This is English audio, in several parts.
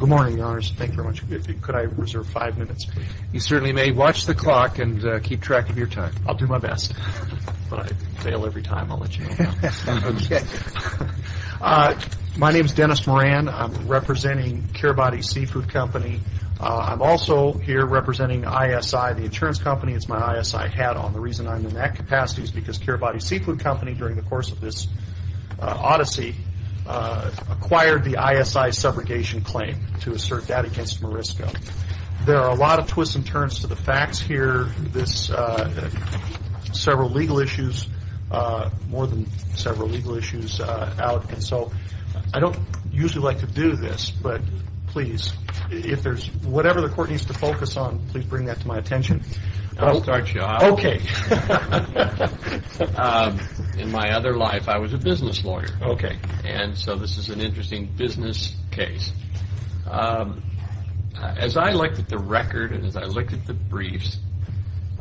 Good morning, Your Honors. Thank you very much. Could I reserve five minutes? You certainly may. Watch the clock and keep track of your time. I'll do my best. If I fail every time, I'll let you know. My name is Dennis Moran. I'm representing Kiribati Seafood Company. I'm also here representing ISI, the insurance company. It's my ISI hat on. The reason I'm in that capacity is because Kiribati Seafood Company, during the course of this odyssey, acquired the ISI subrogation claim to assert that against Marisco. There are a lot of twists and turns to the facts here, several legal issues, more than several legal issues out. I don't usually like to do this, but please, if there's whatever the Court needs to focus on, please bring that to my attention. I'll start you off. Okay. In my other life, I was a business lawyer. Okay. This is an interesting business case. As I looked at the record and as I looked at the briefs,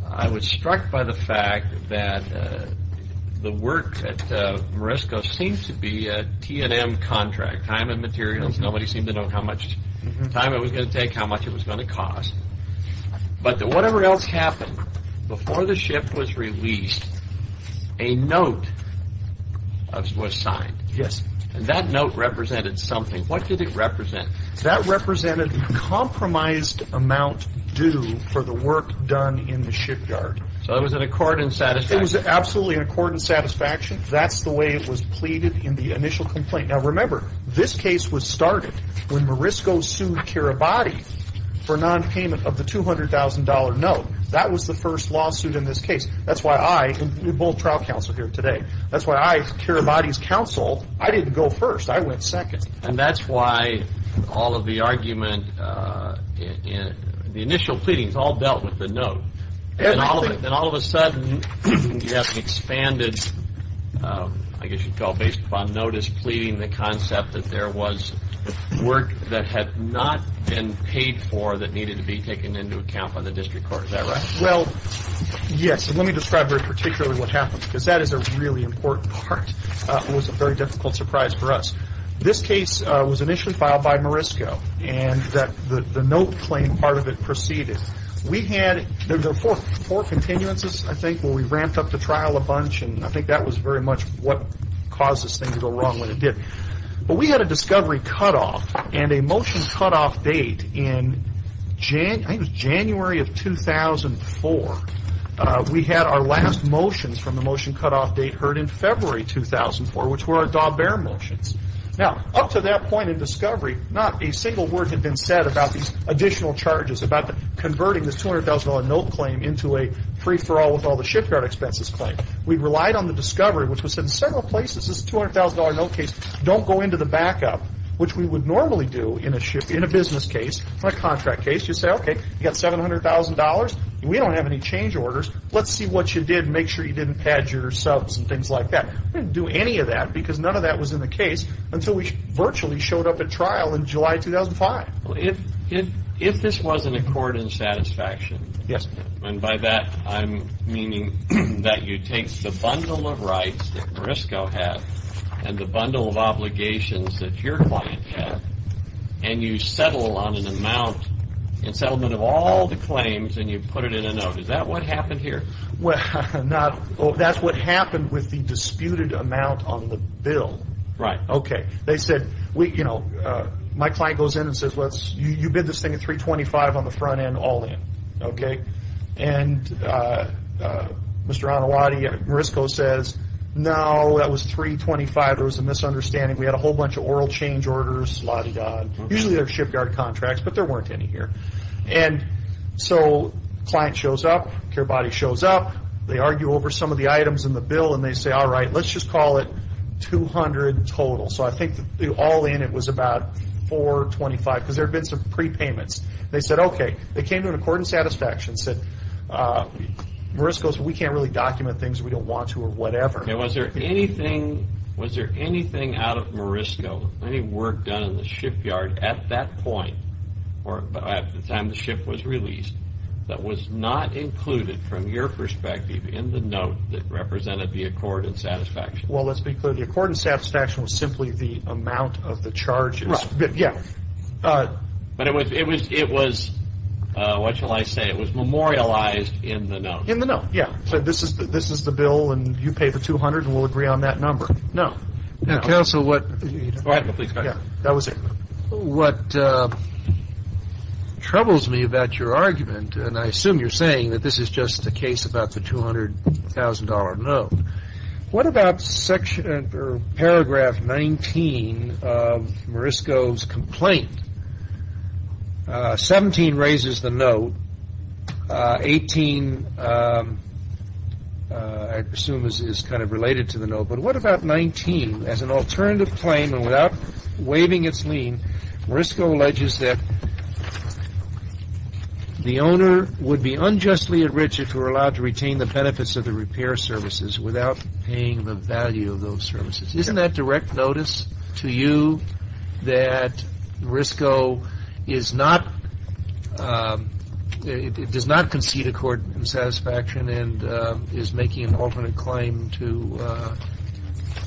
I was struck by the fact that the work at Marisco seemed to be a T&M contract, time and materials. Nobody seemed to know how much time it was going to take, how much it was going to cost. Whatever else happened, before the ship was released, a note was signed. Yes. That note represented something. What did it represent? That represented the compromised amount due for the work done in the shipyard. So it was an accord and satisfaction? It was absolutely an accord and satisfaction. That's the way it was pleaded in the initial complaint. Now, remember, this case was started when Marisco sued Kiribati for nonpayment of the $200,000 note. That was the first lawsuit in this case. That's why I, both trial counsel here today, that's why I, Kiribati's counsel, I didn't go first. I went second. And that's why all of the argument, the initial pleadings all dealt with the note. And all of a sudden, you have expanded, I guess you'd call based upon notice pleading, the concept that there was work that had not been paid for that needed to be taken into account by the district court. Is that right? Well, yes. Let me describe very particularly what happened, because that is a really important part. It was a very difficult surprise for us. This case was initially filed by Marisco, and the note claim part of it proceeded. We had, there were four continuances, I think, where we ramped up the trial a bunch, and I think that was very much what caused this thing to go wrong when it did. But we had a discovery cut off, and a motion cut off date in, I think it was January of 2004. We had our last motions from the motion cut off date heard in February 2004, which were our Daubert motions. Now, up to that point in discovery, not a single word had been said about these additional charges, about converting this $200,000 note claim into a free-for-all with all the shipyard expenses claim. We relied on the discovery, which was in several places, this $200,000 note case, don't go into the backup, which we would normally do in a business case or a contract case. You say, okay, you got $700,000, and we don't have any change orders. Let's see what you did and make sure you didn't pad your subs and things like that. We didn't do any of that, because none of that was in the case until we virtually showed up at trial in July 2005. If this wasn't a bundle of rights that Marisco had, and the bundle of obligations that your client had, and you settle on an amount in settlement of all the claims, and you put it in a note, is that what happened here? That's what happened with the disputed amount on the bill. They said, my client goes in and says, you bid this thing at $325,000 on the front end, all in. Mr. Anawati, Marisco says, no, that was $325,000. There was a misunderstanding. We had a whole bunch of oral change orders. Usually, there are shipyard contracts, but there weren't any here. Client shows up. Care body shows up. They argue over some of the items in the bill, and they say, all right, let's just call it $200,000 total. I think all in, it was about $425,000, because there had been some prepayments. They said, okay. They came to an accord and Was there anything out of Marisco, any work done in the shipyard at that point, or at the time the ship was released, that was not included, from your perspective, in the note that represented the accord and satisfaction? Let's be clear. The accord and satisfaction was simply the amount of the charges. Right. Yeah. It was, what shall I say, it was memorialized in the note. In the note, yeah. This is the bill, and you pay the $200,000, and we'll agree on that number. No. Counsel, what Please go ahead. That was it. What troubles me about your argument, and I assume you're saying that this is just a case about the $200,000 note. What about paragraph 19 of Marisco's complaint? 17 raises the note. 18, I assume, is kind of related to the note, but what about 19? As an alternative claim, and without waiving its lien, Marisco alleges that the owner would be unjustly enriched if he were allowed to retain the benefits of the repair services without paying the It does not concede accord and satisfaction, and is making an alternate claim to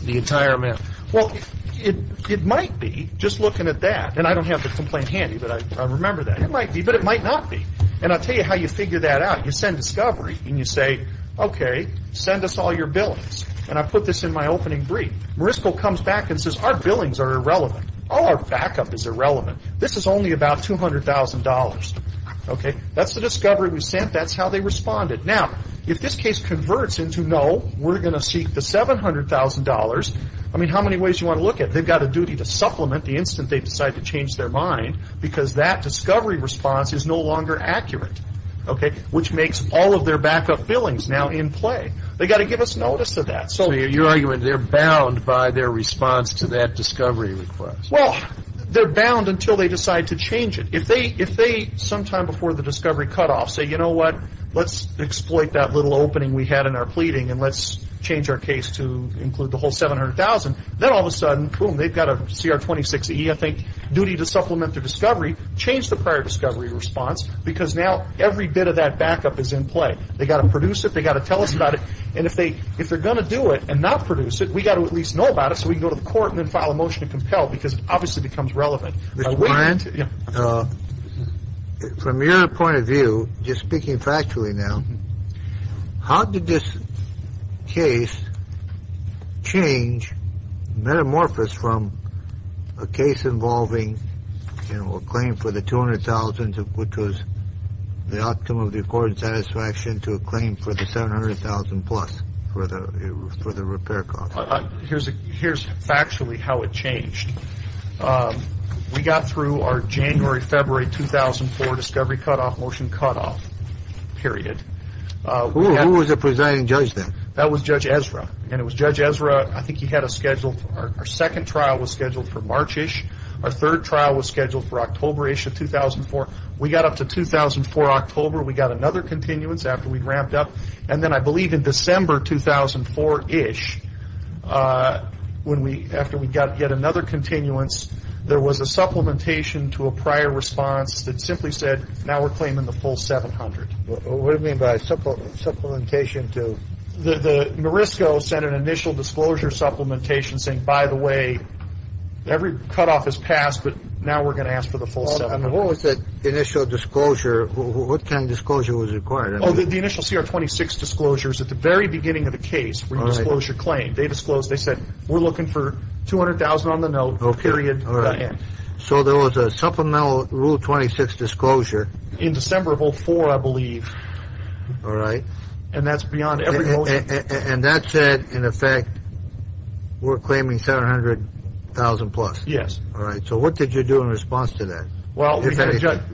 the entire amount. Well, it might be, just looking at that, and I don't have the complaint handy, but I remember that. It might be, but it might not be, and I'll tell you how you figure that out. You send discovery, and you say, okay, send us all your billings, and I put this in my opening brief. Marisco comes back and says, our billings are irrelevant. All our backup is irrelevant. This is only about $200,000. That's the discovery we sent. That's how they responded. Now, if this case converts into, no, we're going to seek the $700,000, I mean, how many ways do you want to look at it? They've got a duty to supplement the instant they decide to change their mind, because that discovery response is no longer accurate, which makes all of their backup billings now in play. They've got to give us notice of that. So your argument is they're bound by their response to that discovery request. Well, they're bound until they decide to change it. If they, sometime before the discovery cutoff, say, you know what, let's exploit that little opening we had in our pleading, and let's change our case to include the whole $700,000, then all of a sudden, boom, they've got a CR 26E, I think, duty to supplement their discovery, change the prior discovery response, because now every bit of that backup is in play. They've got to produce it. They've got to tell us about it, and if they're going to do it and not produce it, we've got to at least know about it so we can go to the court and then file a motion to compel, because it obviously becomes relevant. Mr. Ryan, from your point of view, just speaking factually now, how did this case change metamorphosis from a case involving, you know, a claim for the $200,000, which was the outcome of the court's satisfaction to a claim for the $700,000 plus for the repair cost? Here's factually how it changed. We got through our January, February 2004 discovery cutoff motion cutoff period. Who was the presiding judge then? That was Judge Ezra, and it was Judge Ezra, I think he had a scheduled, our second trial was scheduled for March-ish. Our third trial was scheduled for October-ish of 2004. We got up to 2004-October, we got another continuance after we'd ramped up, and then I believe in December 2004-ish, when we, after we got yet another continuance, there was a supplementation to a prior response that simply said, now we're claiming the full $700,000. What do you mean by supplementation to? The Morisco sent an initial disclosure supplementation saying, by the way, every cutoff is passed, What was that initial disclosure, what kind of disclosure was required? The initial CR 26 disclosures at the very beginning of the case, when you disclose your claim, they disclosed, they said, we're looking for $200,000 on the note, period, end. So there was a supplemental rule 26 disclosure. In December of 2004, I believe. And that's beyond every motion. And that said, in effect, we're claiming $700,000 plus. Yes. All right. So what did you do in response to that? Well,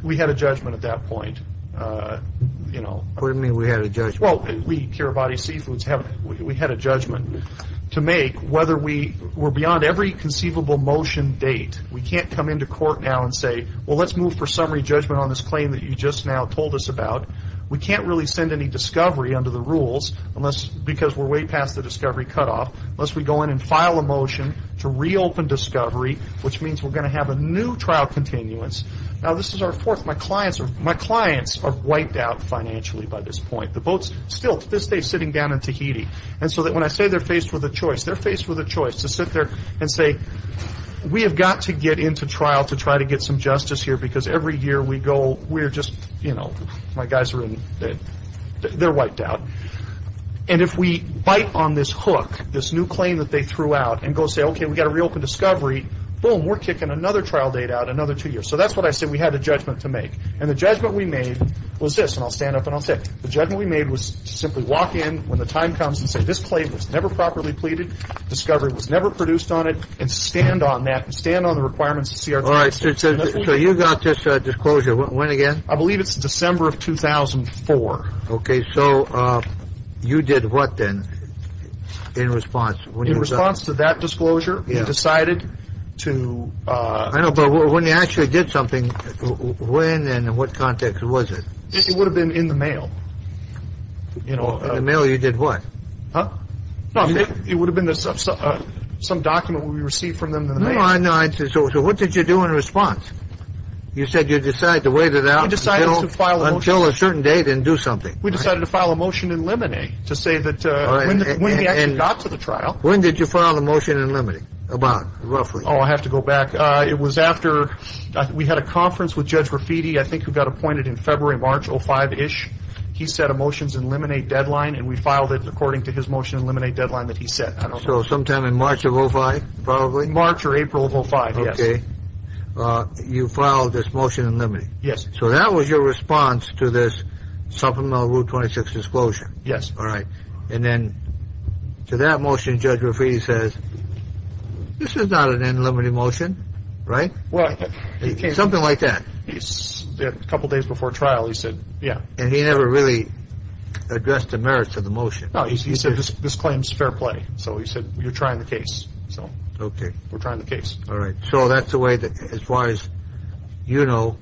we had a judgment at that point. What do you mean, we had a judgment? Well, we, Cure Body Seizures, we had a judgment to make whether we were beyond every conceivable motion date. We can't come into court now and say, well, let's move for summary judgment on this claim that you just now told us about. We can't really send any discovery under the rules unless, because we're way past the discovery cutoff, unless we go in and file a motion to reopen discovery, which means we're going to have a new trial continuance. Now, this is our fourth. My clients are wiped out financially by this point. The boat's still, to this day, sitting down in Tahiti. And so when I say they're faced with a choice, they're faced with a choice to sit there and say, we have got to get into trial to try to get some justice here, because every year we go, we're just, you know, my guys are in, they're wiped out. And if we bite on this hook, this new claim that they threw out, and go say, okay, we got to reopen discovery, boom, we're kicking another trial date out, another two years. So that's what I said. We had a judgment to make. And the judgment we made was this, and I'll stand up and I'll say it. The judgment we made was to simply walk in when the time comes and say, this claim was never properly pleaded, discovery was never produced on it, and stand on that, and stand on the requirements of CRT. All right. So you got this disclosure, when again? I believe it's December of 2004. Okay. Okay. So you did what then, in response? In response to that disclosure, we decided to... I know, but when you actually did something, when and in what context was it? It would have been in the mail, you know. In the mail you did what? Huh? No, it would have been some document we received from them in the mail. No, I know. So what did you do in response? You said you decided to wait it out until a certain date and do something. We decided to file a motion in limine to say that when we actually got to the trial... When did you file a motion in limine about, roughly? Oh, I have to go back. It was after we had a conference with Judge Rafiti, I think who got appointed in February, March of 05-ish. He said a motion's in limine deadline, and we filed it according to his motion in limine deadline that he set. I don't know. So sometime in March of 05, probably? March or April of 05, yes. Okay. You filed this motion in limine? Yes. So that was your response to this supplemental Rule 26 disclosure? Yes. All right. And then to that motion, Judge Rafiti says, this is not an in limine motion, right? Something like that. A couple days before trial, he said, yeah. And he never really addressed the merits of the motion? No, he said, this claims fair play. So he said, you're trying the case. So we're trying the case. All right. So that's the way that, as far as you know,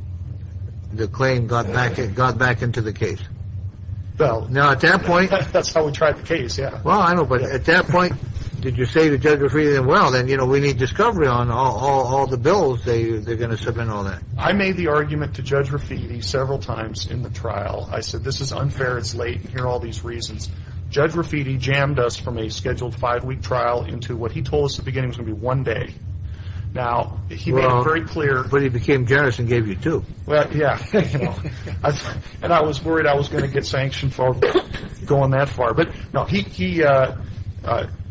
the claim got back into the case? Well, that's how we tried the case, yeah. Well, I know. But at that point, did you say to Judge Rafiti, well, then we need discovery on all the bills they're going to submit on that? I made the argument to Judge Rafiti several times in the trial. I said, this is unfair. It's late. And here are all these reasons. Judge Rafiti jammed us from a scheduled five-week trial into what he told us at the beginning was going to be one day. Now, he made it very clear. But he became generous and gave you two. Yeah. And I was worried I was going to get sanctioned for going that far. But no,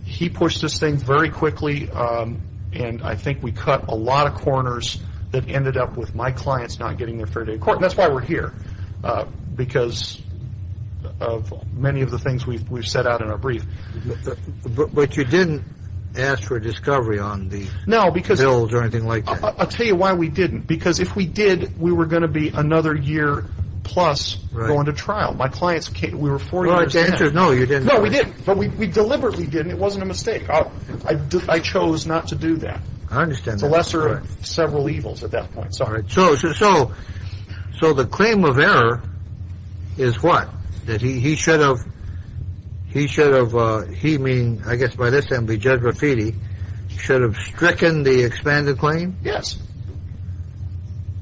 he pushed this thing very quickly. And I think we cut a lot of corners that ended up with my clients not getting their fair day in court. And that's why we're here, because of many of the things we've set out in our brief. But you didn't ask for discovery on the bills or anything like that? No, because I'll tell you why we didn't. Because if we did, we were going to be another year plus going to trial. My clients came. We were four years in. No, you didn't. No, we didn't. But we deliberately didn't. It wasn't a mistake. I chose not to do that. I understand that. It's the lesser of several evils at that point. So the claim of error is what? That he should have, he should have, he meaning, I guess by this time be Judge Rafiti, should have stricken the expanded claim? Yes.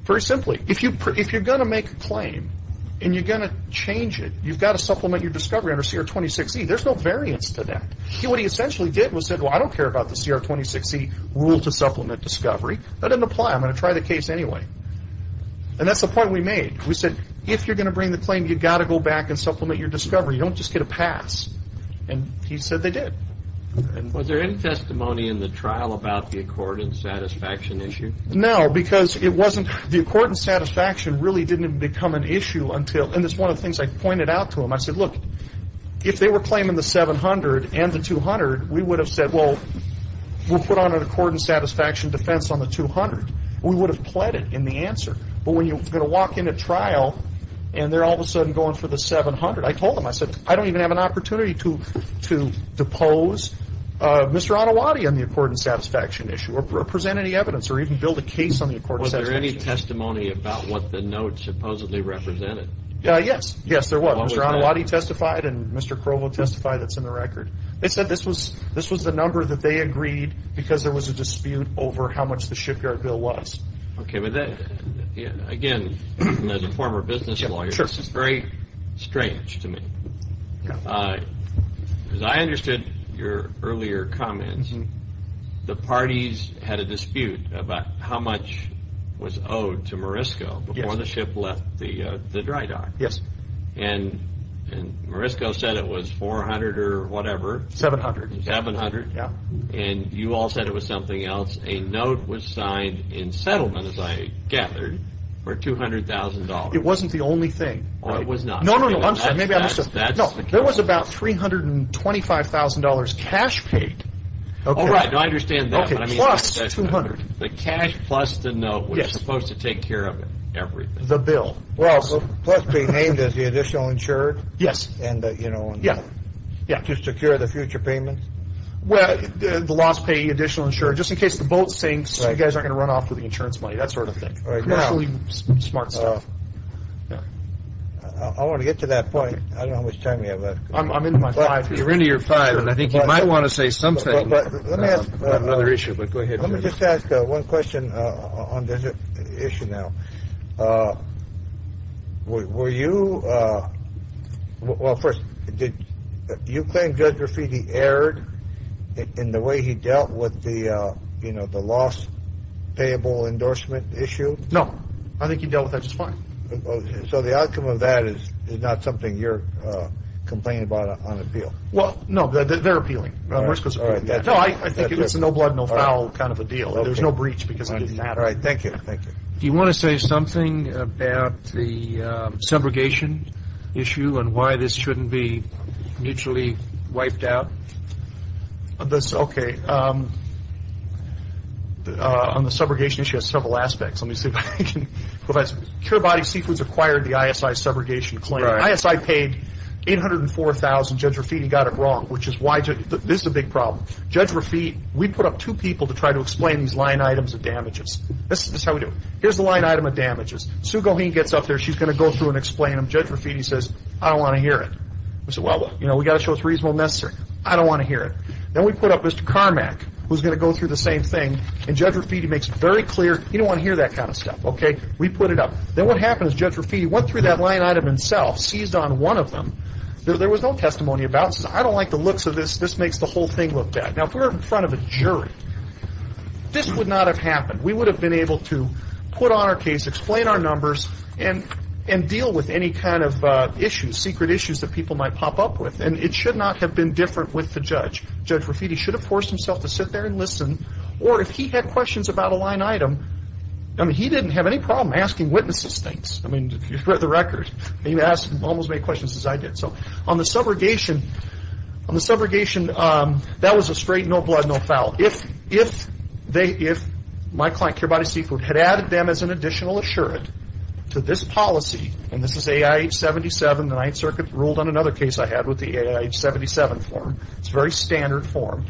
Very simply. If you're going to make a claim and you're going to change it, you've got to supplement your discovery under CR 26E. There's no variance to that. What he essentially did was said, well, I don't care about the CR 26E rule to supplement discovery. That didn't apply. I'm going to try the case anyway. And that's the point we made. We said, if you're going to bring the claim, you've got to go back and supplement your discovery. You don't just get a pass. And he said they did. Was there any testimony in the trial about the accord and satisfaction issue? No, because it wasn't, the accord and satisfaction really didn't become an issue until, and it's one of the things I pointed out to him. I said, look, if they were claiming the 700 and the 200, we would have said, well, we'll put on an accord and satisfaction defense on the 200. We would have pled it in the answer. But when you're going to walk in a trial and they're all of a sudden going for the 700, I told him, I said, I don't even have an opportunity to depose Mr. Anawadi on the accord and satisfaction issue or present any evidence or even build a case on the accord and satisfaction issue. Was there any testimony about what the notes supposedly represented? Yes. Yes, there was. Mr. Anawadi testified and Mr. Krovo testified. That's in the record. They said this was the number that they agreed because there was a dispute over how much the shipyard bill was. Okay. Again, as a former business lawyer, this is very strange to me because I understood your earlier comments. The parties had a dispute about how much was owed to Morisco before the ship left the dry dock. Yes. And Morisco said it was 400 or whatever. 700. 700. Yeah. And you all said it was something else. A note was signed in settlement, as I gathered, for $200,000. It wasn't the only thing. It was not. No, no, no. I'm sorry. Maybe I misunderstood. No, there was about $325,000 cash paid. Oh, right. No, I understand that. Okay. Plus $200,000. The cash plus the note was supposed to take care of everything. The bill. Well, plus being named as the additional insurer? Yes. And, you know. Yeah. Yeah. To secure the future payments? Well, the loss paying additional insurer. Just in case the boat sinks. Right. You guys aren't going to run off with the insurance money. That sort of thing. Right now. Smart stuff. I want to get to that point. I don't know how much time we have left. I'm into my five. You're into your five. And I think you might want to say something. Let me ask. I have another issue. But go ahead. Let me just ask one question on this issue now. Were you, well, first, did you claim Judge Rafiti erred in the way he dealt with the loss payable endorsement issue? No. I think he dealt with that just fine. So the outcome of that is not something you're complaining about on appeal? Well, no. They're appealing. I think it's a no blood, no foul kind of a deal. There's no breach because it didn't matter. All right. Do you want to say something about the subrogation issue and why this shouldn't be mutually wiped out? Okay. On the subrogation issue, it has several aspects. Let me see if I can. Cure Body Seafoods acquired the ISI subrogation claim. ISI paid $804,000, Judge Rafiti got it wrong, which is why this is a big problem. Judge Rafiti, we put up two people to try to explain these line items of damages. This is how we do it. Here's the line item of damages. Sue Goheen gets up there. She's going to go through and explain them. Judge Rafiti says, I don't want to hear it. We said, well, you know, we've got to show it's reasonable and necessary. I don't want to hear it. Then we put up Mr. Carmack, who's going to go through the same thing, and Judge Rafiti makes it very clear, you don't want to hear that kind of stuff, okay? We put it up. Then what happened is Judge Rafiti went through that line item himself, seized on one of them. There was no testimony about it. He says, I don't like the looks of this. This makes the whole thing look bad. Now, if we were in front of a jury, this would not have happened. We would have been able to put on our case, explain our numbers, and deal with any kind of issues, secret issues that people might pop up with. It should not have been different with the judge. Judge Rafiti should have forced himself to sit there and listen, or if he had questions about a line item, I mean, he didn't have any problem asking witnesses things. I mean, if you've read the record, you've asked almost as many questions as I did. On the subrogation, that was a straight, no blood, no foul. Now, if my client, Care Body Seafood, had added them as an additional assurant to this policy, and this is AIH-77, the Ninth Circuit ruled on another case I had with the AIH-77 form. It's a very standard form.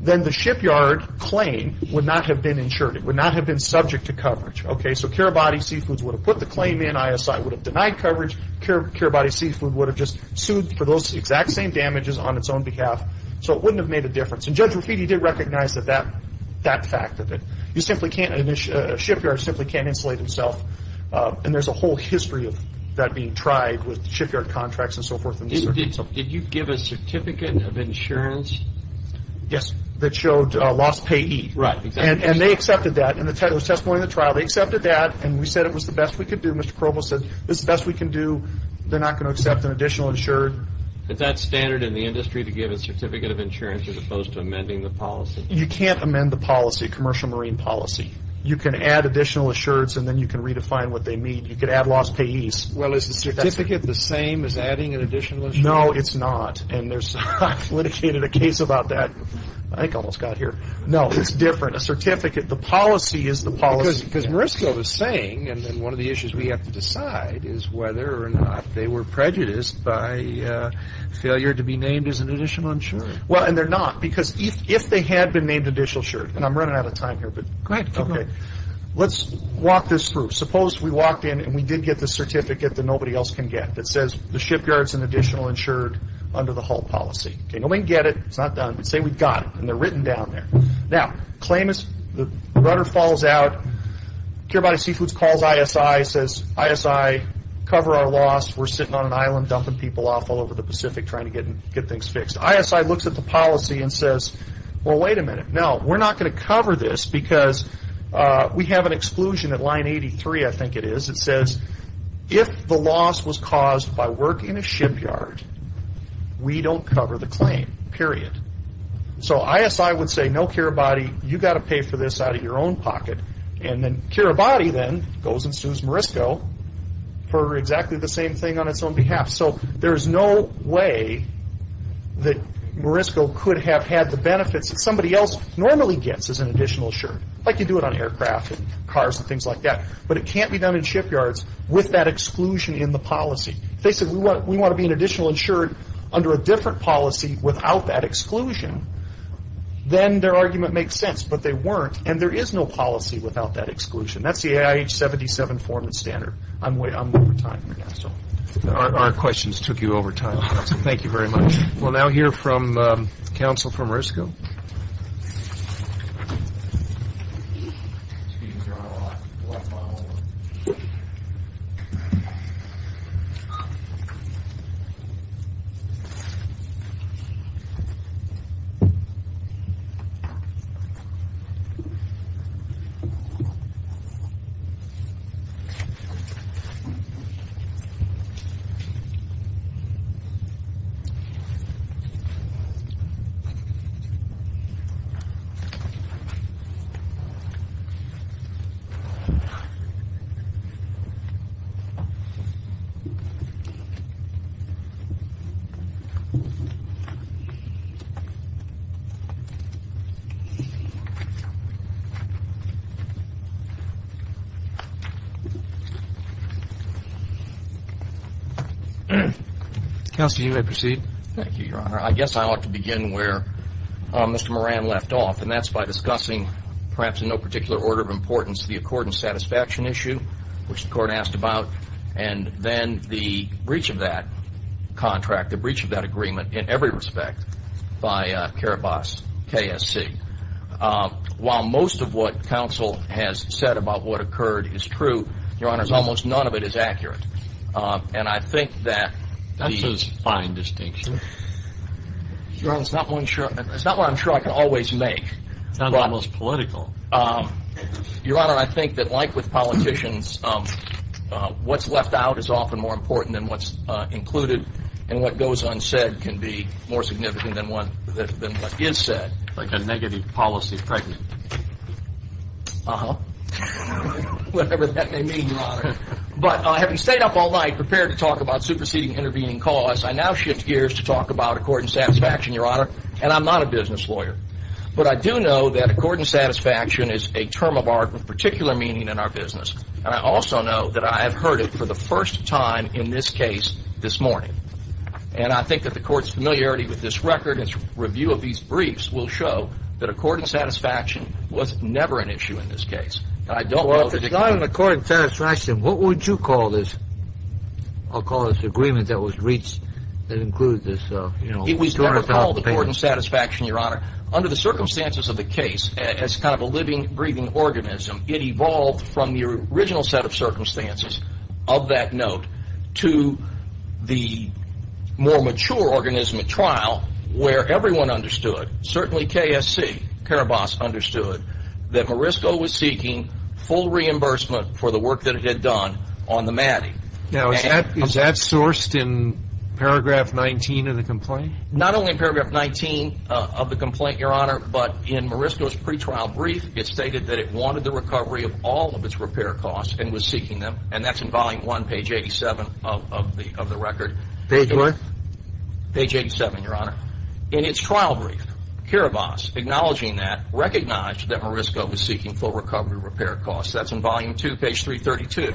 Then the shipyard claim would not have been insured. It would not have been subject to coverage, okay? So Care Body Seafood would have put the claim in. ISI would have denied coverage. Care Body Seafood would have just sued for those exact same damages on its own behalf. So it wouldn't have made a difference. And Judge Rapitti did recognize that fact of it. You simply can't, a shipyard simply can't insulate itself, and there's a whole history of that being tried with shipyard contracts and so forth. Did you give a certificate of insurance? Yes, that showed lost payee. Right, exactly. And they accepted that. In the testimony of the trial, they accepted that, and we said it was the best we could do. Mr. Krobo said, this is the best we can do. They're not going to accept an additional insurer. Is that standard in the industry to give a certificate of insurance as opposed to amending the policy? You can't amend the policy, commercial marine policy. You can add additional insurers, and then you can redefine what they mean. You can add lost payees. Well, is the certificate the same as adding an additional insurer? No, it's not. And I've litigated a case about that. I think I almost got here. No, it's different. A certificate. The policy is the policy. Because Marisco was saying, and one of the issues we have to decide is whether or not they were prejudiced by failure to be named as an additional insurer. Well, and they're not. Because if they had been named additional insured, and I'm running out of time here, but... Go ahead. Keep going. Let's walk this through. Suppose we walked in and we did get the certificate that nobody else can get that says the shipyard's an additional insured under the Hull policy. Okay, nobody can get it. It's not done. But say we got it, and they're written down there. Now, claim is the rudder falls out, Care Body Seafoods calls ISI, says, ISI, cover our loss. We're sitting on an island dumping people off all over the Pacific trying to get things fixed. ISI looks at the policy and says, well, wait a minute, no, we're not going to cover this because we have an exclusion at line 83, I think it is, it says, if the loss was caused by work in a shipyard, we don't cover the claim, period. So ISI would say, no, Care Body, you've got to pay for this out of your own pocket. And then Care Body then goes and sues Morisco for exactly the same thing on its own behalf. So there's no way that Morisco could have had the benefits that somebody else normally gets as an additional insured. Like you do it on aircraft and cars and things like that. But it can't be done in shipyards with that exclusion in the policy. If they said, we want to be an additional insured under a different policy without that exclusion. That's the AIH-77 form and standard. I'm over time. I'm going to stop. Our questions took you over time. Thank you very much. We'll now hear from counsel from Morisco. Counsel, you may proceed. I guess I ought to begin where Mr. Moran left off, and that's by discussing, perhaps in no particular order of importance, the accord and satisfaction issue, which the court asked about, and then the breach of that contract, the breach of that agreement in every respect by Carabas KSC. While most of what counsel has said about what occurred is true, your honors, almost none of it is accurate. And I think that... That's a fine distinction. Your honor, it's not one I'm sure I can always make. It's not the most political. Your honor, I think that like with politicians, what's left out is often more important than what's included, and what goes unsaid can be more significant than what is said. Like a negative policy pregnant. Uh-huh. Whatever that may mean, your honor. But having stayed up all night prepared to talk about superseding intervening costs, I now shift gears to talk about accord and satisfaction, your honor. And I'm not a business lawyer. But I do know that accord and satisfaction is a term of art with particular meaning in our business. And I also know that I have heard it for the first time in this case this morning. And I think that the court's familiarity with this record and its review of these briefs will show that accord and satisfaction was never an issue in this case. Well, if it's not an accord and satisfaction, what would you call this? I'll call this agreement that was reached that included this. It was never called accord and satisfaction, your honor. Under the circumstances of the case, as kind of a living, breathing organism, it evolved from the original set of circumstances of that note to the more mature organism at trial where everyone understood, certainly KSC, Karabas understood, that Morisco was seeking full reimbursement for the work that it had done on the MADI. Now, is that sourced in paragraph 19 of the complaint? Not only in paragraph 19 of the complaint, your honor, but in Morisco's pretrial brief, it stated that it wanted the recovery of all of its repair costs and was seeking them. And that's in volume 1, page 87 of the record. Page what? Page 87, your honor. In its trial brief, Karabas, acknowledging that, recognized that Morisco was seeking full recovery of repair costs. That's in volume 2, page 332.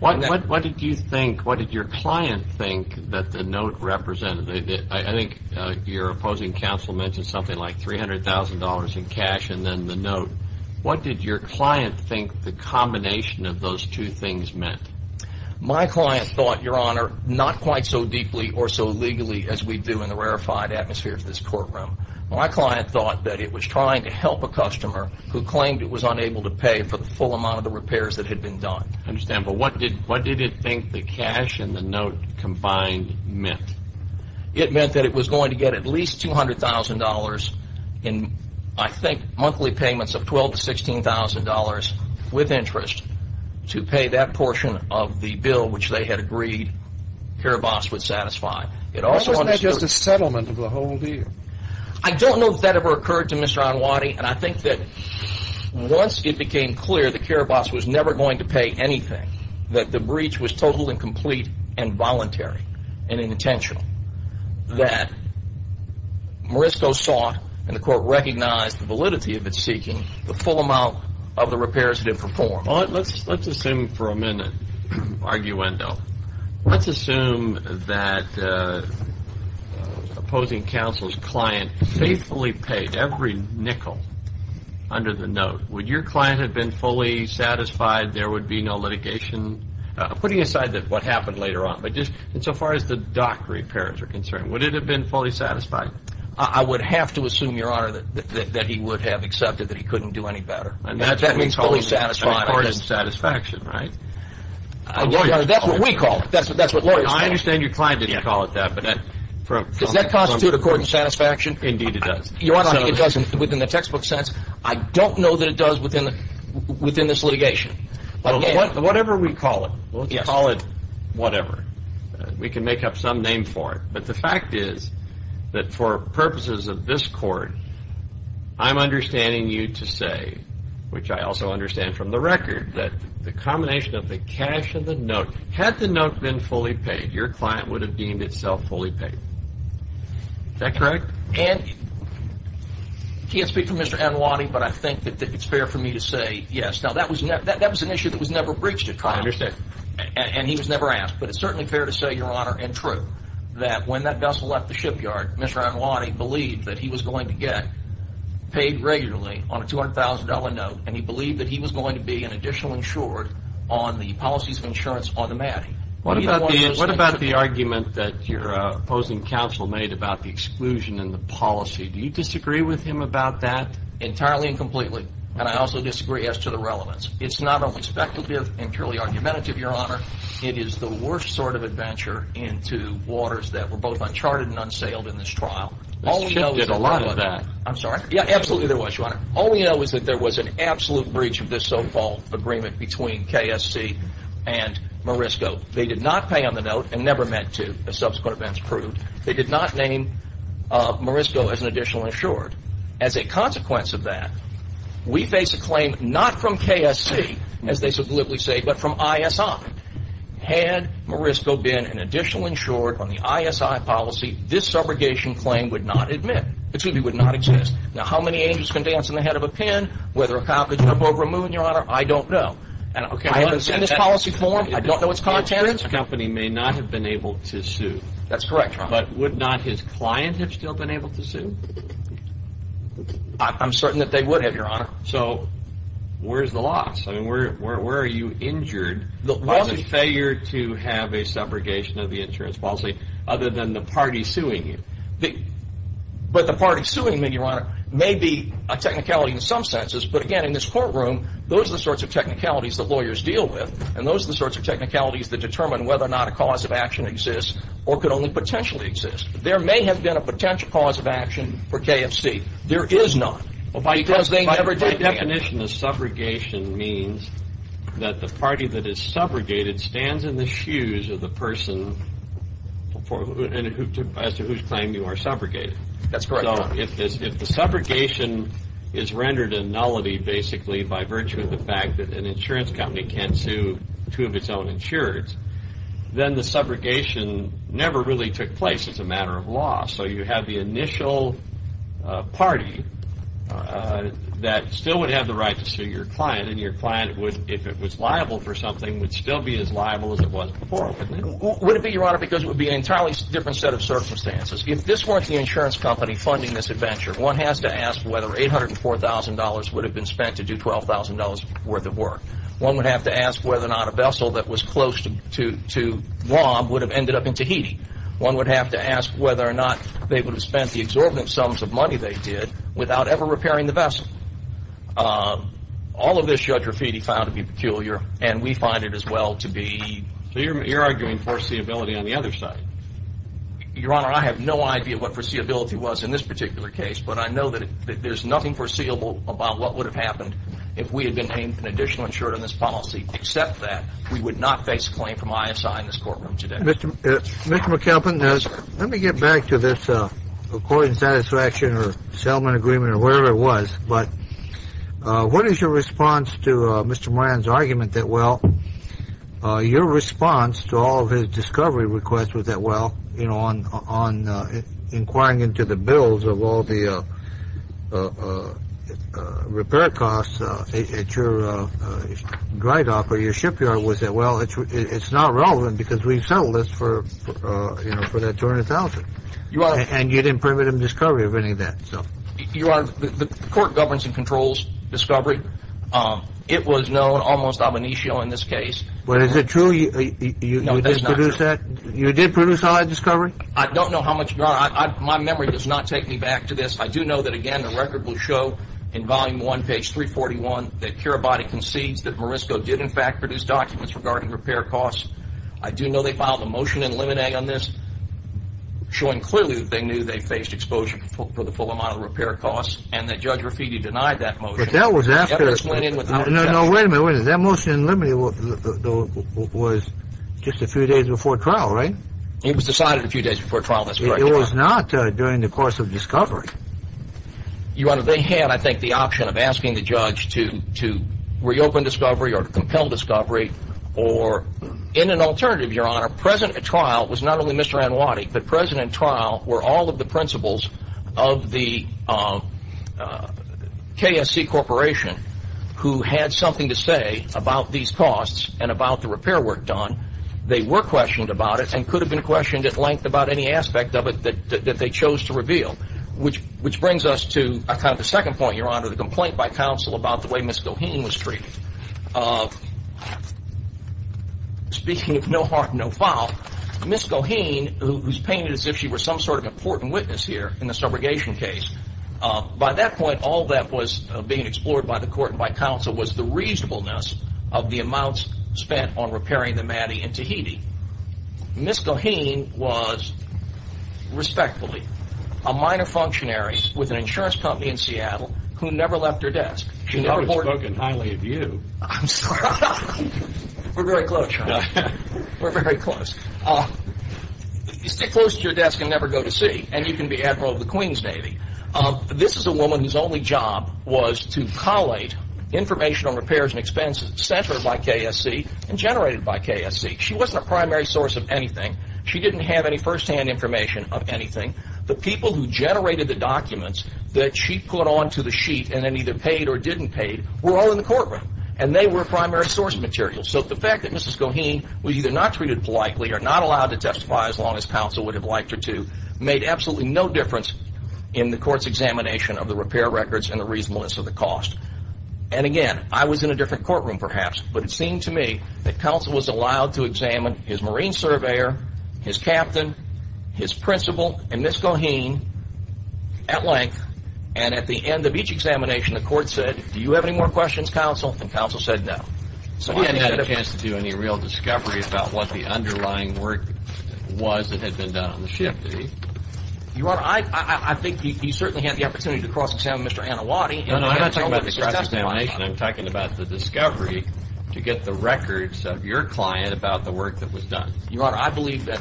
What did you think, what did your client think that the note represented? I think your opposing counsel mentioned something like $300,000 in cash and then the note. What did your client think the combination of those two things meant? My client thought, your honor, not quite so deeply or so legally as we do in the rarefied atmosphere of this courtroom. My client thought that it was trying to help a customer who claimed it was unable to pay for the full amount of the repairs that had been done. I understand. But what did it think the cash and the note combined meant? It meant that it was going to get at least $200,000 in, I think, monthly payments of $12,000 to $16,000 with interest to pay that portion of the bill which they had agreed Karabas would satisfy. Why wasn't that just a settlement of the whole deal? I don't know if that ever occurred to Mr. Onwati, and I think that once it became clear that Karabas was never going to pay anything, that the breach was total and complete and voluntary and intentional, that Morisco sought, and the court recognized the validity of its seeking, the full amount of the repairs that it performed. Let's assume for a minute, arguendo. Let's assume that opposing counsel's client faithfully paid every nickel under the note. Would your client have been fully satisfied there would be no litigation? Putting aside what happened later on, but just so far as the dock repairs are concerned, would it have been fully satisfied? I would have to assume, Your Honor, that he would have accepted that he couldn't do any better. And that's what we call recorded satisfaction, right? That's what we call it. That's what lawyers call it. I understand your client didn't call it that. Does that constitute a court of satisfaction? Indeed it does. You're arguing it doesn't within the textbook sense? I don't know that it does within this litigation. Whatever we call it, let's call it whatever. We can make up some name for it. But the fact is that for purposes of this court, I'm understanding you to say, which I also understand from the record, that the combination of the cash and the note, had the note been fully paid, your client would have deemed itself fully paid. Is that correct? And I can't speak for Mr. Anwani, but I think that it's fair for me to say yes. Now, that was an issue that was never breached at trial. I understand. And he was never asked. But it's certainly fair to say, Your Honor, and true, that when that vessel left the shipyard, Mr. Anwani believed that he was going to get paid regularly on a $200,000 note, and he believed that he was going to be an additional insured on the policies of insurance on the mat. What about the argument that your opposing counsel made about the exclusion in the policy? Do you disagree with him about that? Entirely and completely. And I also disagree as to the relevance. It's not only speculative and purely argumentative, Your Honor. It is the worst sort of adventure into waters that were both uncharted and unsailed in this trial. The ship did a lot of that. I'm sorry? Yeah, absolutely there was, Your Honor. All we know is that there was an absolute breach of this so-called agreement between KSC and Morisco. They did not pay on the note and never meant to, as subsequent events proved. They did not name Morisco as an additional insured. As a consequence of that, we face a claim not from KSC, as they sublimely say, but from ISI. Had Morisco been an additional insured on the ISI policy, this subrogation claim would not exist. Now, how many angels can dance on the head of a pin? Whether a cow could jump over a moon, Your Honor, I don't know. I haven't seen this policy form. I don't know its content. The insurance company may not have been able to sue. That's correct, Your Honor. But would not his client have still been able to sue? I'm certain that they would have, Your Honor. So where's the loss? I mean, where are you injured by the failure to have a subrogation of the insurance policy other than the party suing you? But the party suing me, Your Honor, may be a technicality in some senses. But again, in this courtroom, those are the sorts of technicalities that lawyers deal with. And those are the sorts of technicalities that determine whether or not a cause of action exists or could only potentially exist. There may have been a potential cause of action for KFC. There is not. Well, by definition, the subrogation means that the party that is subrogated stands in the shoes of the person as to whose claim you are subrogated. That's correct, Your Honor. So if the subrogation is rendered a nullity basically by virtue of the fact that an insurance company can't sue two of its own insurers, then the subrogation never really took place. It's a matter of law. So you have the initial party that still would have the right to sue your client, and your client, if it was liable for something, would still be as liable as it was before, wouldn't it? Would it be, Your Honor, because it would be an entirely different set of circumstances. If this weren't the insurance company funding this adventure, one has to ask whether $804,000 would have been spent to do $12,000 worth of work. One would have to ask whether or not a vessel that was close to Guam would have ended up in Tahiti. One would have to ask whether or not they would have spent the exorbitant sums of money they did without ever repairing the vessel. All of this Judge Rafiti found to be peculiar, and we find it as well to be... So you're arguing foreseeability on the other side. Your Honor, I have no idea what foreseeability was in this particular case, but I know that there's nothing foreseeable about what would have happened if we had been paid an additional insurance on this policy, except that we would not face a claim from ISI in this courtroom today. Mr. McAlpin, let me get back to this accord and satisfaction or settlement agreement or whatever it was. But what is your response to Mr. Moran's argument that, well, your response to all of his discovery requests was that, well, inquiring into the bills of all the repair costs at your dry dock or your shipyard was that, well, it's not relevant because we've settled this for that $200,000, and you didn't permit him discovery of any of that. Your Honor, the court governs and controls discovery. It was known almost ab initio in this case. But is it true you did produce that? I don't know how much, Your Honor. My memory does not take me back to this. I do know that, again, the record will show in volume one, page 341, that Carabati concedes that Morisco did, in fact, produce documents regarding repair costs. I do know they filed a motion in limine on this, showing clearly that they knew they faced exposure for the full amount of repair costs, and that Judge Rafiti denied that motion. But that was after – That motion in limine was just a few days before trial, right? It was decided a few days before trial, that's correct, Your Honor. It was not during the course of discovery. Your Honor, they had, I think, the option of asking the judge to reopen discovery or to compel discovery, or in an alternative, Your Honor, present at trial was not only Mr. Anwadi, but present at trial were all of the principals of the KSC Corporation, who had something to say about these costs and about the repair work done. They were questioned about it and could have been questioned at length about any aspect of it that they chose to reveal, which brings us to kind of the second point, Your Honor, the complaint by counsel about the way Ms. Goheen was treated. Speaking of no harm, no foul, Ms. Goheen, who's painted as if she were some sort of important witness here in the subrogation case, by that point, all that was being explored by the court and by counsel was the reasonableness of the amounts spent on repairing the Maddy in Tahiti. Ms. Goheen was, respectfully, a minor functionary with an insurance company in Seattle who never left her desk. She never boarded. She never spoke in highly of you. I'm sorry. We're very close, Your Honor. We're very close. You stick close to your desk and never go to sea, and you can be Admiral of the Queen's Navy. This is a woman whose only job was to collate information on repairs and expenses sent her by KSC and generated by KSC. She wasn't a primary source of anything. She didn't have any firsthand information of anything. The people who generated the documents that she put onto the sheet and then either paid or didn't pay were all in the courtroom, and they were a primary source of material. So the fact that Ms. Goheen was either not treated politely or not allowed to testify as long as counsel would have liked her to made absolutely no difference in the court's examination of the repair records and the reasonableness of the cost. And, again, I was in a different courtroom, perhaps, but it seemed to me that counsel was allowed to examine his marine surveyor, his captain, his principal, and Ms. Goheen at length, and at the end of each examination the court said, Do you have any more questions, counsel? And counsel said no. So he hadn't had a chance to do any real discovery about what the underlying work was that had been done on the ship, did he? Your Honor, I think he certainly had the opportunity to cross-examine Mr. Anawati. No, no, I'm not talking about the cross-examination. I'm talking about the discovery to get the records of your client about the work that was done. Your Honor, I believe that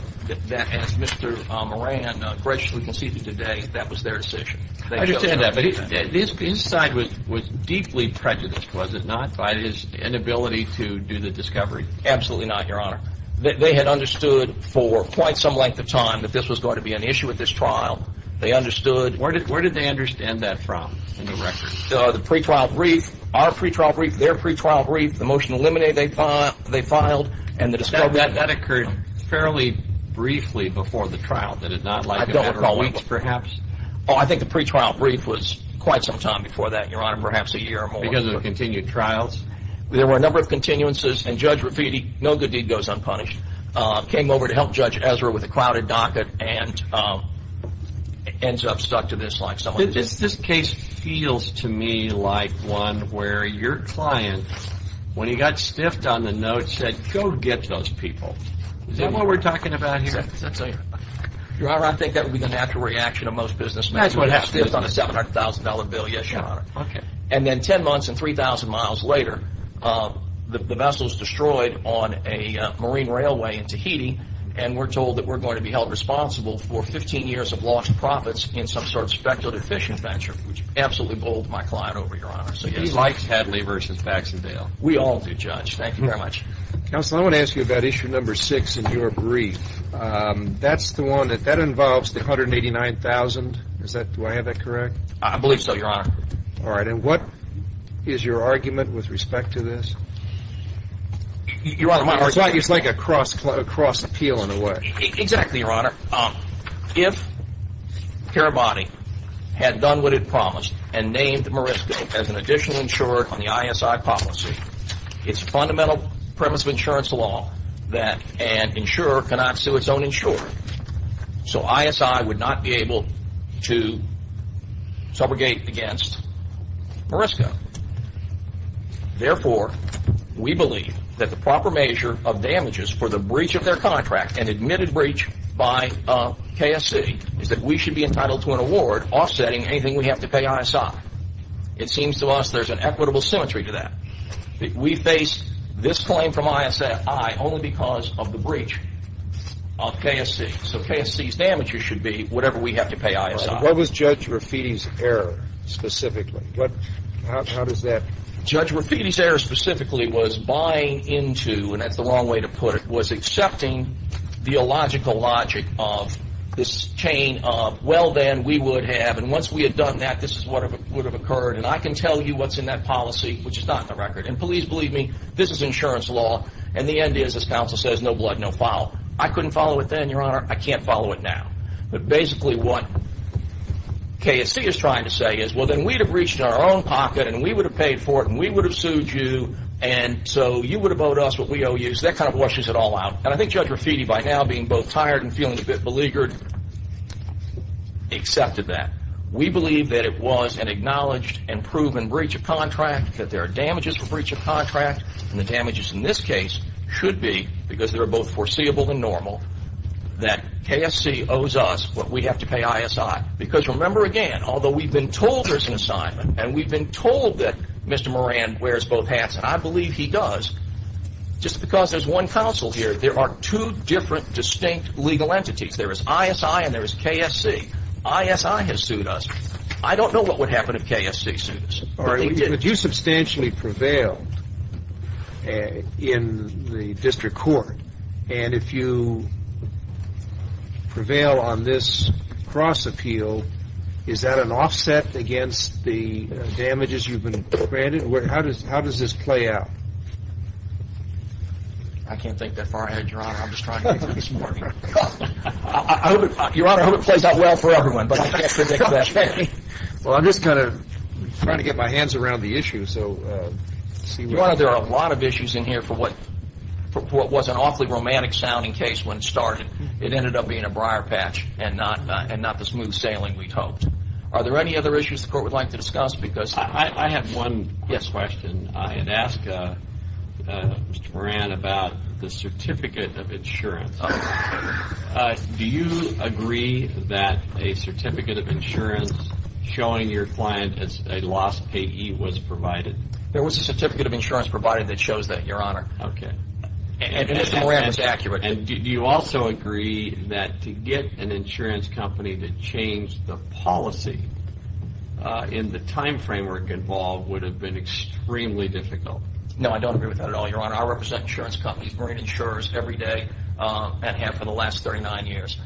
as Mr. Moran graciously conceded today that that was their decision. I understand that, but his side was deeply prejudiced, was it not, by his inability to do the discovery? Absolutely not, Your Honor. They had understood for quite some length of time that this was going to be an issue at this trial. They understood. Where did they understand that from, the new records? The pre-trial brief, our pre-trial brief, their pre-trial brief, the motion to eliminate they filed, and the discovery. That occurred fairly briefly before the trial, did it not? I don't recall. A week, perhaps? Oh, I think the pre-trial brief was quite some time before that, Your Honor, perhaps a year or more. Because of the continued trials? There were a number of continuances, and Judge Rivitti, no good deed goes unpunished, came over to help Judge Ezra with a crowded docket and ends up stuck to this like someone did. This case feels to me like one where your client, when he got stiffed on the note, said, go get those people. Is that what we're talking about here? Your Honor, I think that would be the natural reaction of most businessmen. That's what happened. Stiffed on a $700,000 bill, yes, Your Honor. Okay. And then 10 months and 3,000 miles later, the vessel is destroyed on a marine railway in Tahiti, and we're told that we're going to be held responsible for 15 years of lost profits in some sort of speculative fishing venture, which absolutely bowled my client over, Your Honor. He likes Hadley versus Baxendale. We all do, Judge. Thank you very much. Counsel, I want to ask you about issue number six in your brief. That's the one that involves the $189,000. Do I have that correct? I believe so, Your Honor. All right. And what is your argument with respect to this? Your Honor, my argument is... It's like a cross-appeal, in a way. Exactly, Your Honor. If Parabody had done what it promised and named Marisco as an additional insurer on the ISI policy, it's a fundamental premise of insurance law that an insurer cannot sue its own insurer. So ISI would not be able to subrogate against Marisco. Therefore, we believe that the proper measure of damages for the breach of their contract, an admitted breach by KSC, is that we should be entitled to an award offsetting anything we have to pay ISI. It seems to us there's an equitable symmetry to that. We face this claim from ISI only because of the breach of KSC. So KSC's damages should be whatever we have to pay ISI. What was Judge Rafiti's error specifically? How does that... Judge Rafiti's error specifically was buying into, and that's the wrong way to put it, was accepting the illogical logic of this chain of, well, then, we would have, and once we had done that, this is what would have occurred. And I can tell you what's in that policy, which is not in the record. And please believe me, this is insurance law. And the end is, as counsel says, no blood, no foul. I couldn't follow it then, Your Honor. I can't follow it now. But basically what KSC is trying to say is, well, then, we'd have reached our own pocket, and we would have paid for it, and we would have sued you, and so you would have owed us what we owe you. So that kind of washes it all out. And I think Judge Rafiti, by now being both tired and feeling a bit beleaguered, accepted that. We believe that it was an acknowledged and proven breach of contract, that there are damages for breach of contract, and the damages in this case should be, because they're both foreseeable and normal, that KSC owes us what we have to pay ISI. Because remember again, although we've been told there's an assignment, and we've been told that Mr. Moran wears both hats, and I believe he does, just because there's one counsel here, there are two different distinct legal entities. There is ISI and there is KSC. ISI has sued us. I don't know what would happen if KSC sued us. All right. But you substantially prevailed in the district court, and if you prevail on this cross-appeal, is that an offset against the damages you've been granted? How does this play out? I can't think that far ahead, Your Honor. I'm just trying to think this morning. Your Honor, I hope it plays out well for everyone, but I can't predict that. Well, I'm just kind of trying to get my hands around the issue. Your Honor, there are a lot of issues in here for what was an awfully romantic-sounding case when it started. It ended up being a briar patch and not the smooth sailing we'd hoped. Are there any other issues the court would like to discuss? I have one question. I had asked Mr. Moran about the certificate of insurance. Do you agree that a certificate of insurance showing your client a lost payee was provided? There was a certificate of insurance provided that shows that, Your Honor. Okay. And Mr. Moran was accurate. And do you also agree that to get an insurance company to change the policy in the time framework involved would have been extremely difficult? No, I don't agree with that at all, Your Honor. I represent insurance companies bringing insurers every day and have for the last 39 years.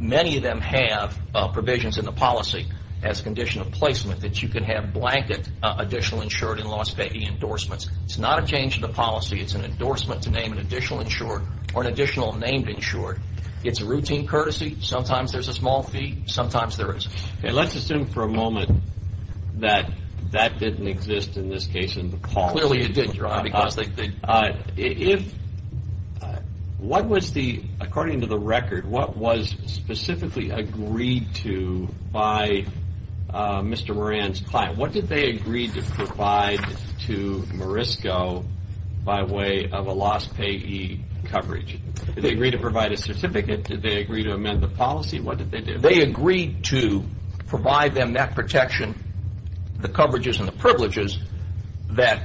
Many of them have provisions in the policy as a condition of placement that you can have blanket additional insured and lost payee endorsements. It's not a change of the policy. It's an endorsement to name an additional insured or an additional named insured. It's a routine courtesy. Sometimes there's a small fee. Sometimes there isn't. Let's assume for a moment that that didn't exist in this case in the policy. Clearly it didn't, Your Honor. According to the record, what was specifically agreed to by Mr. Moran's client? What did they agree to provide to Morisco by way of a lost payee coverage? Did they agree to provide a certificate? Did they agree to amend the policy? What did they do? They agreed to provide them that protection, the coverages and the privileges, that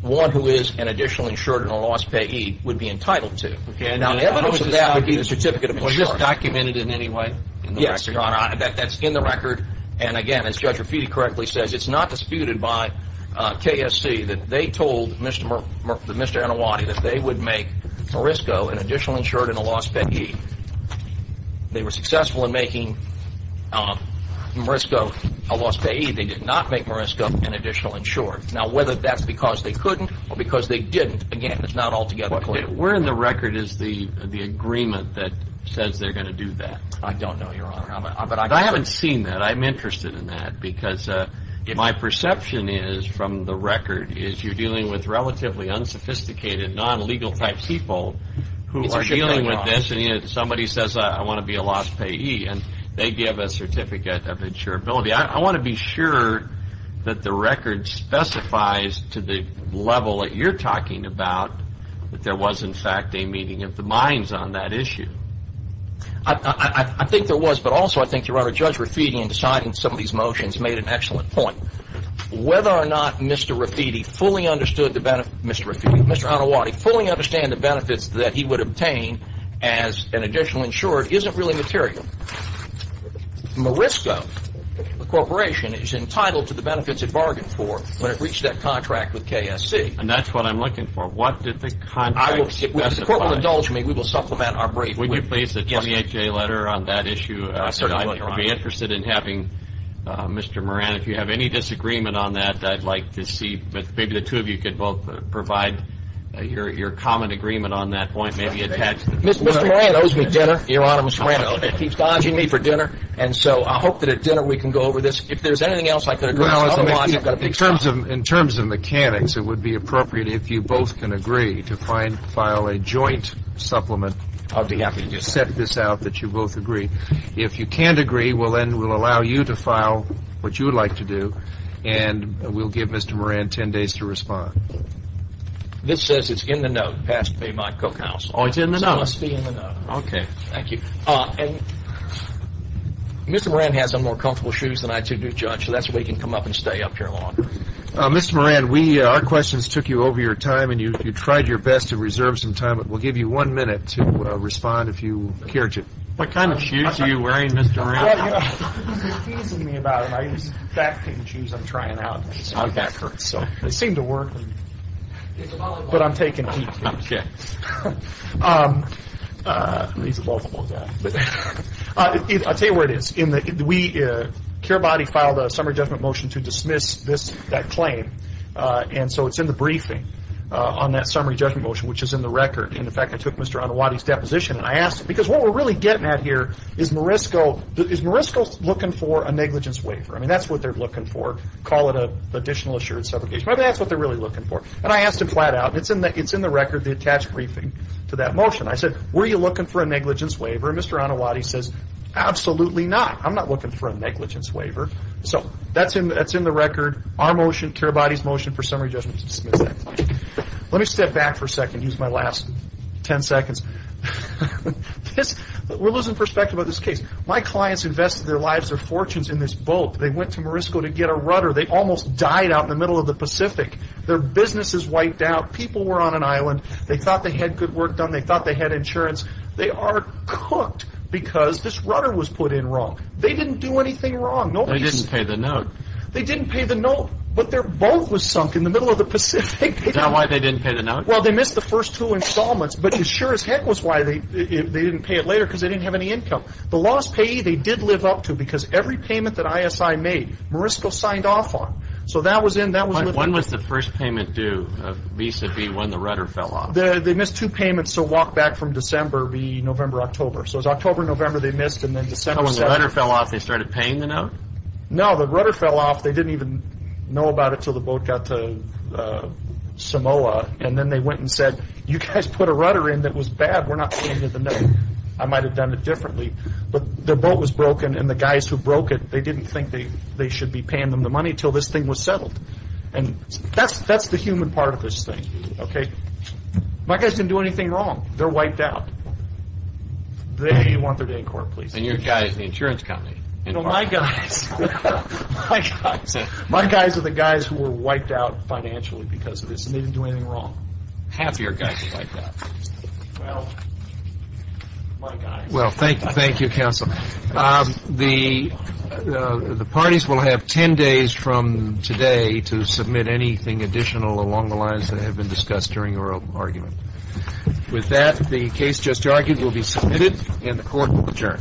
one who is an additional insured and a lost payee would be entitled to. The evidence of that would be the certificate of insurance. Was this documented in any way in the record? Yes, Your Honor. That's in the record. And, again, as Judge Rafiti correctly says, it's not disputed by KSC that they told Mr. Anawadi that they would make Morisco an additional insured and a lost payee. They were successful in making Morisco a lost payee. They did not make Morisco an additional insured. Now, whether that's because they couldn't or because they didn't, again, it's not altogether clear. Where in the record is the agreement that says they're going to do that? I don't know, Your Honor. But I haven't seen that. I'm interested in that because my perception is, from the record, is you're dealing with relatively unsophisticated, non-legal type people who are dealing with this and somebody says, I want to be a lost payee, and they give a certificate of insurability. I want to be sure that the record specifies to the level that you're talking about that there was, in fact, a meeting of the minds on that issue. I think there was, but also I think, Your Honor, Judge Rafiti, in deciding some of these motions, made an excellent point. Whether or not Mr. Rafiti fully understood the benefits that he would obtain as an additional insured isn't really material. Morisco Corporation is entitled to the benefits it bargained for when it reached that contract with KSC. And that's what I'm looking for. What did the contract specify? If the Court will indulge me, we will supplement our brief. Would you please give me a letter on that issue? Certainly, Your Honor. I'd be interested in having Mr. Moran, if you have any disagreement on that, I'd like to see, but maybe the two of you could both provide your common agreement on that point. Mr. Moran owes me dinner. Your Honor, Mr. Moran keeps dodging me for dinner, and so I hope that at dinner we can go over this. If there's anything else I could address, I apologize. In terms of mechanics, it would be appropriate if you both can agree to file a joint supplement. I'll be happy to do that. You set this out that you both agree. If you can't agree, then we'll allow you to file what you would like to do, and we'll give Mr. Moran 10 days to respond. This says it's in the note passed by my cookhouse. Oh, it's in the note. It must be in the note. Okay. Thank you. Mr. Moran has some more comfortable shoes than I do, Judge, so that's why he can come up and stay up here longer. Mr. Moran, our questions took you over your time, and you tried your best to reserve some time, but we'll give you one minute to respond if you care to. What kind of shoes are you wearing, Mr. Moran? He's teasing me about them. I use back-painting shoes I'm trying out. Okay. They seem to work, but I'm taking heat. Okay. I'll tell you where it is. Cure Body filed a summary judgment motion to dismiss that claim, and so it's in the briefing on that summary judgment motion, which is in the record. In fact, I took Mr. Anawady's deposition, and I asked him, because what we're really getting at here is, is Morisco looking for a negligence waiver? I mean, that's what they're looking for. Call it an additional assurance subrogation. Maybe that's what they're really looking for. And I asked him flat out, and it's in the record, the attached briefing to that motion. I said, were you looking for a negligence waiver? And Mr. Anawady says, absolutely not. I'm not looking for a negligence waiver. So that's in the record. Our motion, Cure Body's motion for summary judgment to dismiss that motion. Let me step back for a second and use my last ten seconds. We're losing perspective on this case. My clients invested their lives, their fortunes in this boat. They went to Morisco to get a rudder. They almost died out in the middle of the Pacific. Their business is wiped out. People were on an island. They thought they had good work done. They thought they had insurance. They are cooked because this rudder was put in wrong. They didn't do anything wrong. They didn't pay the note. They didn't pay the note, but their boat was sunk in the middle of the Pacific. Is that why they didn't pay the note? Well, they missed the first two installments, but as sure as heck was why they didn't pay it later, because they didn't have any income. The lost payee they did live up to, because every payment that ISI made, Morisco signed off on. So that was in. When was the first payment due vis-à-vis when the rudder fell off? They missed two payments, so walk back from December be November, October. So it was October, November they missed, and then December. So when the rudder fell off, they started paying the note? No, the rudder fell off. They didn't even know about it until the boat got to Samoa, and then they went and said, you guys put a rudder in that was bad. We're not paying you the note. I might have done it differently, but the boat was broken, and the guys who broke it, they didn't think they should be paying them the money until this thing was settled. That's the human part of this thing. My guys didn't do anything wrong. They're wiped out. They want their day in court, please. And your guys, the insurance company. My guys are the guys who were wiped out financially because of this, and they didn't do anything wrong. Half your guys are wiped out. Well, my guys. Well, thank you, counsel. The parties will have ten days from today to submit anything additional along the lines that have been discussed during your argument. With that, the case just argued will be submitted, and the court will adjourn.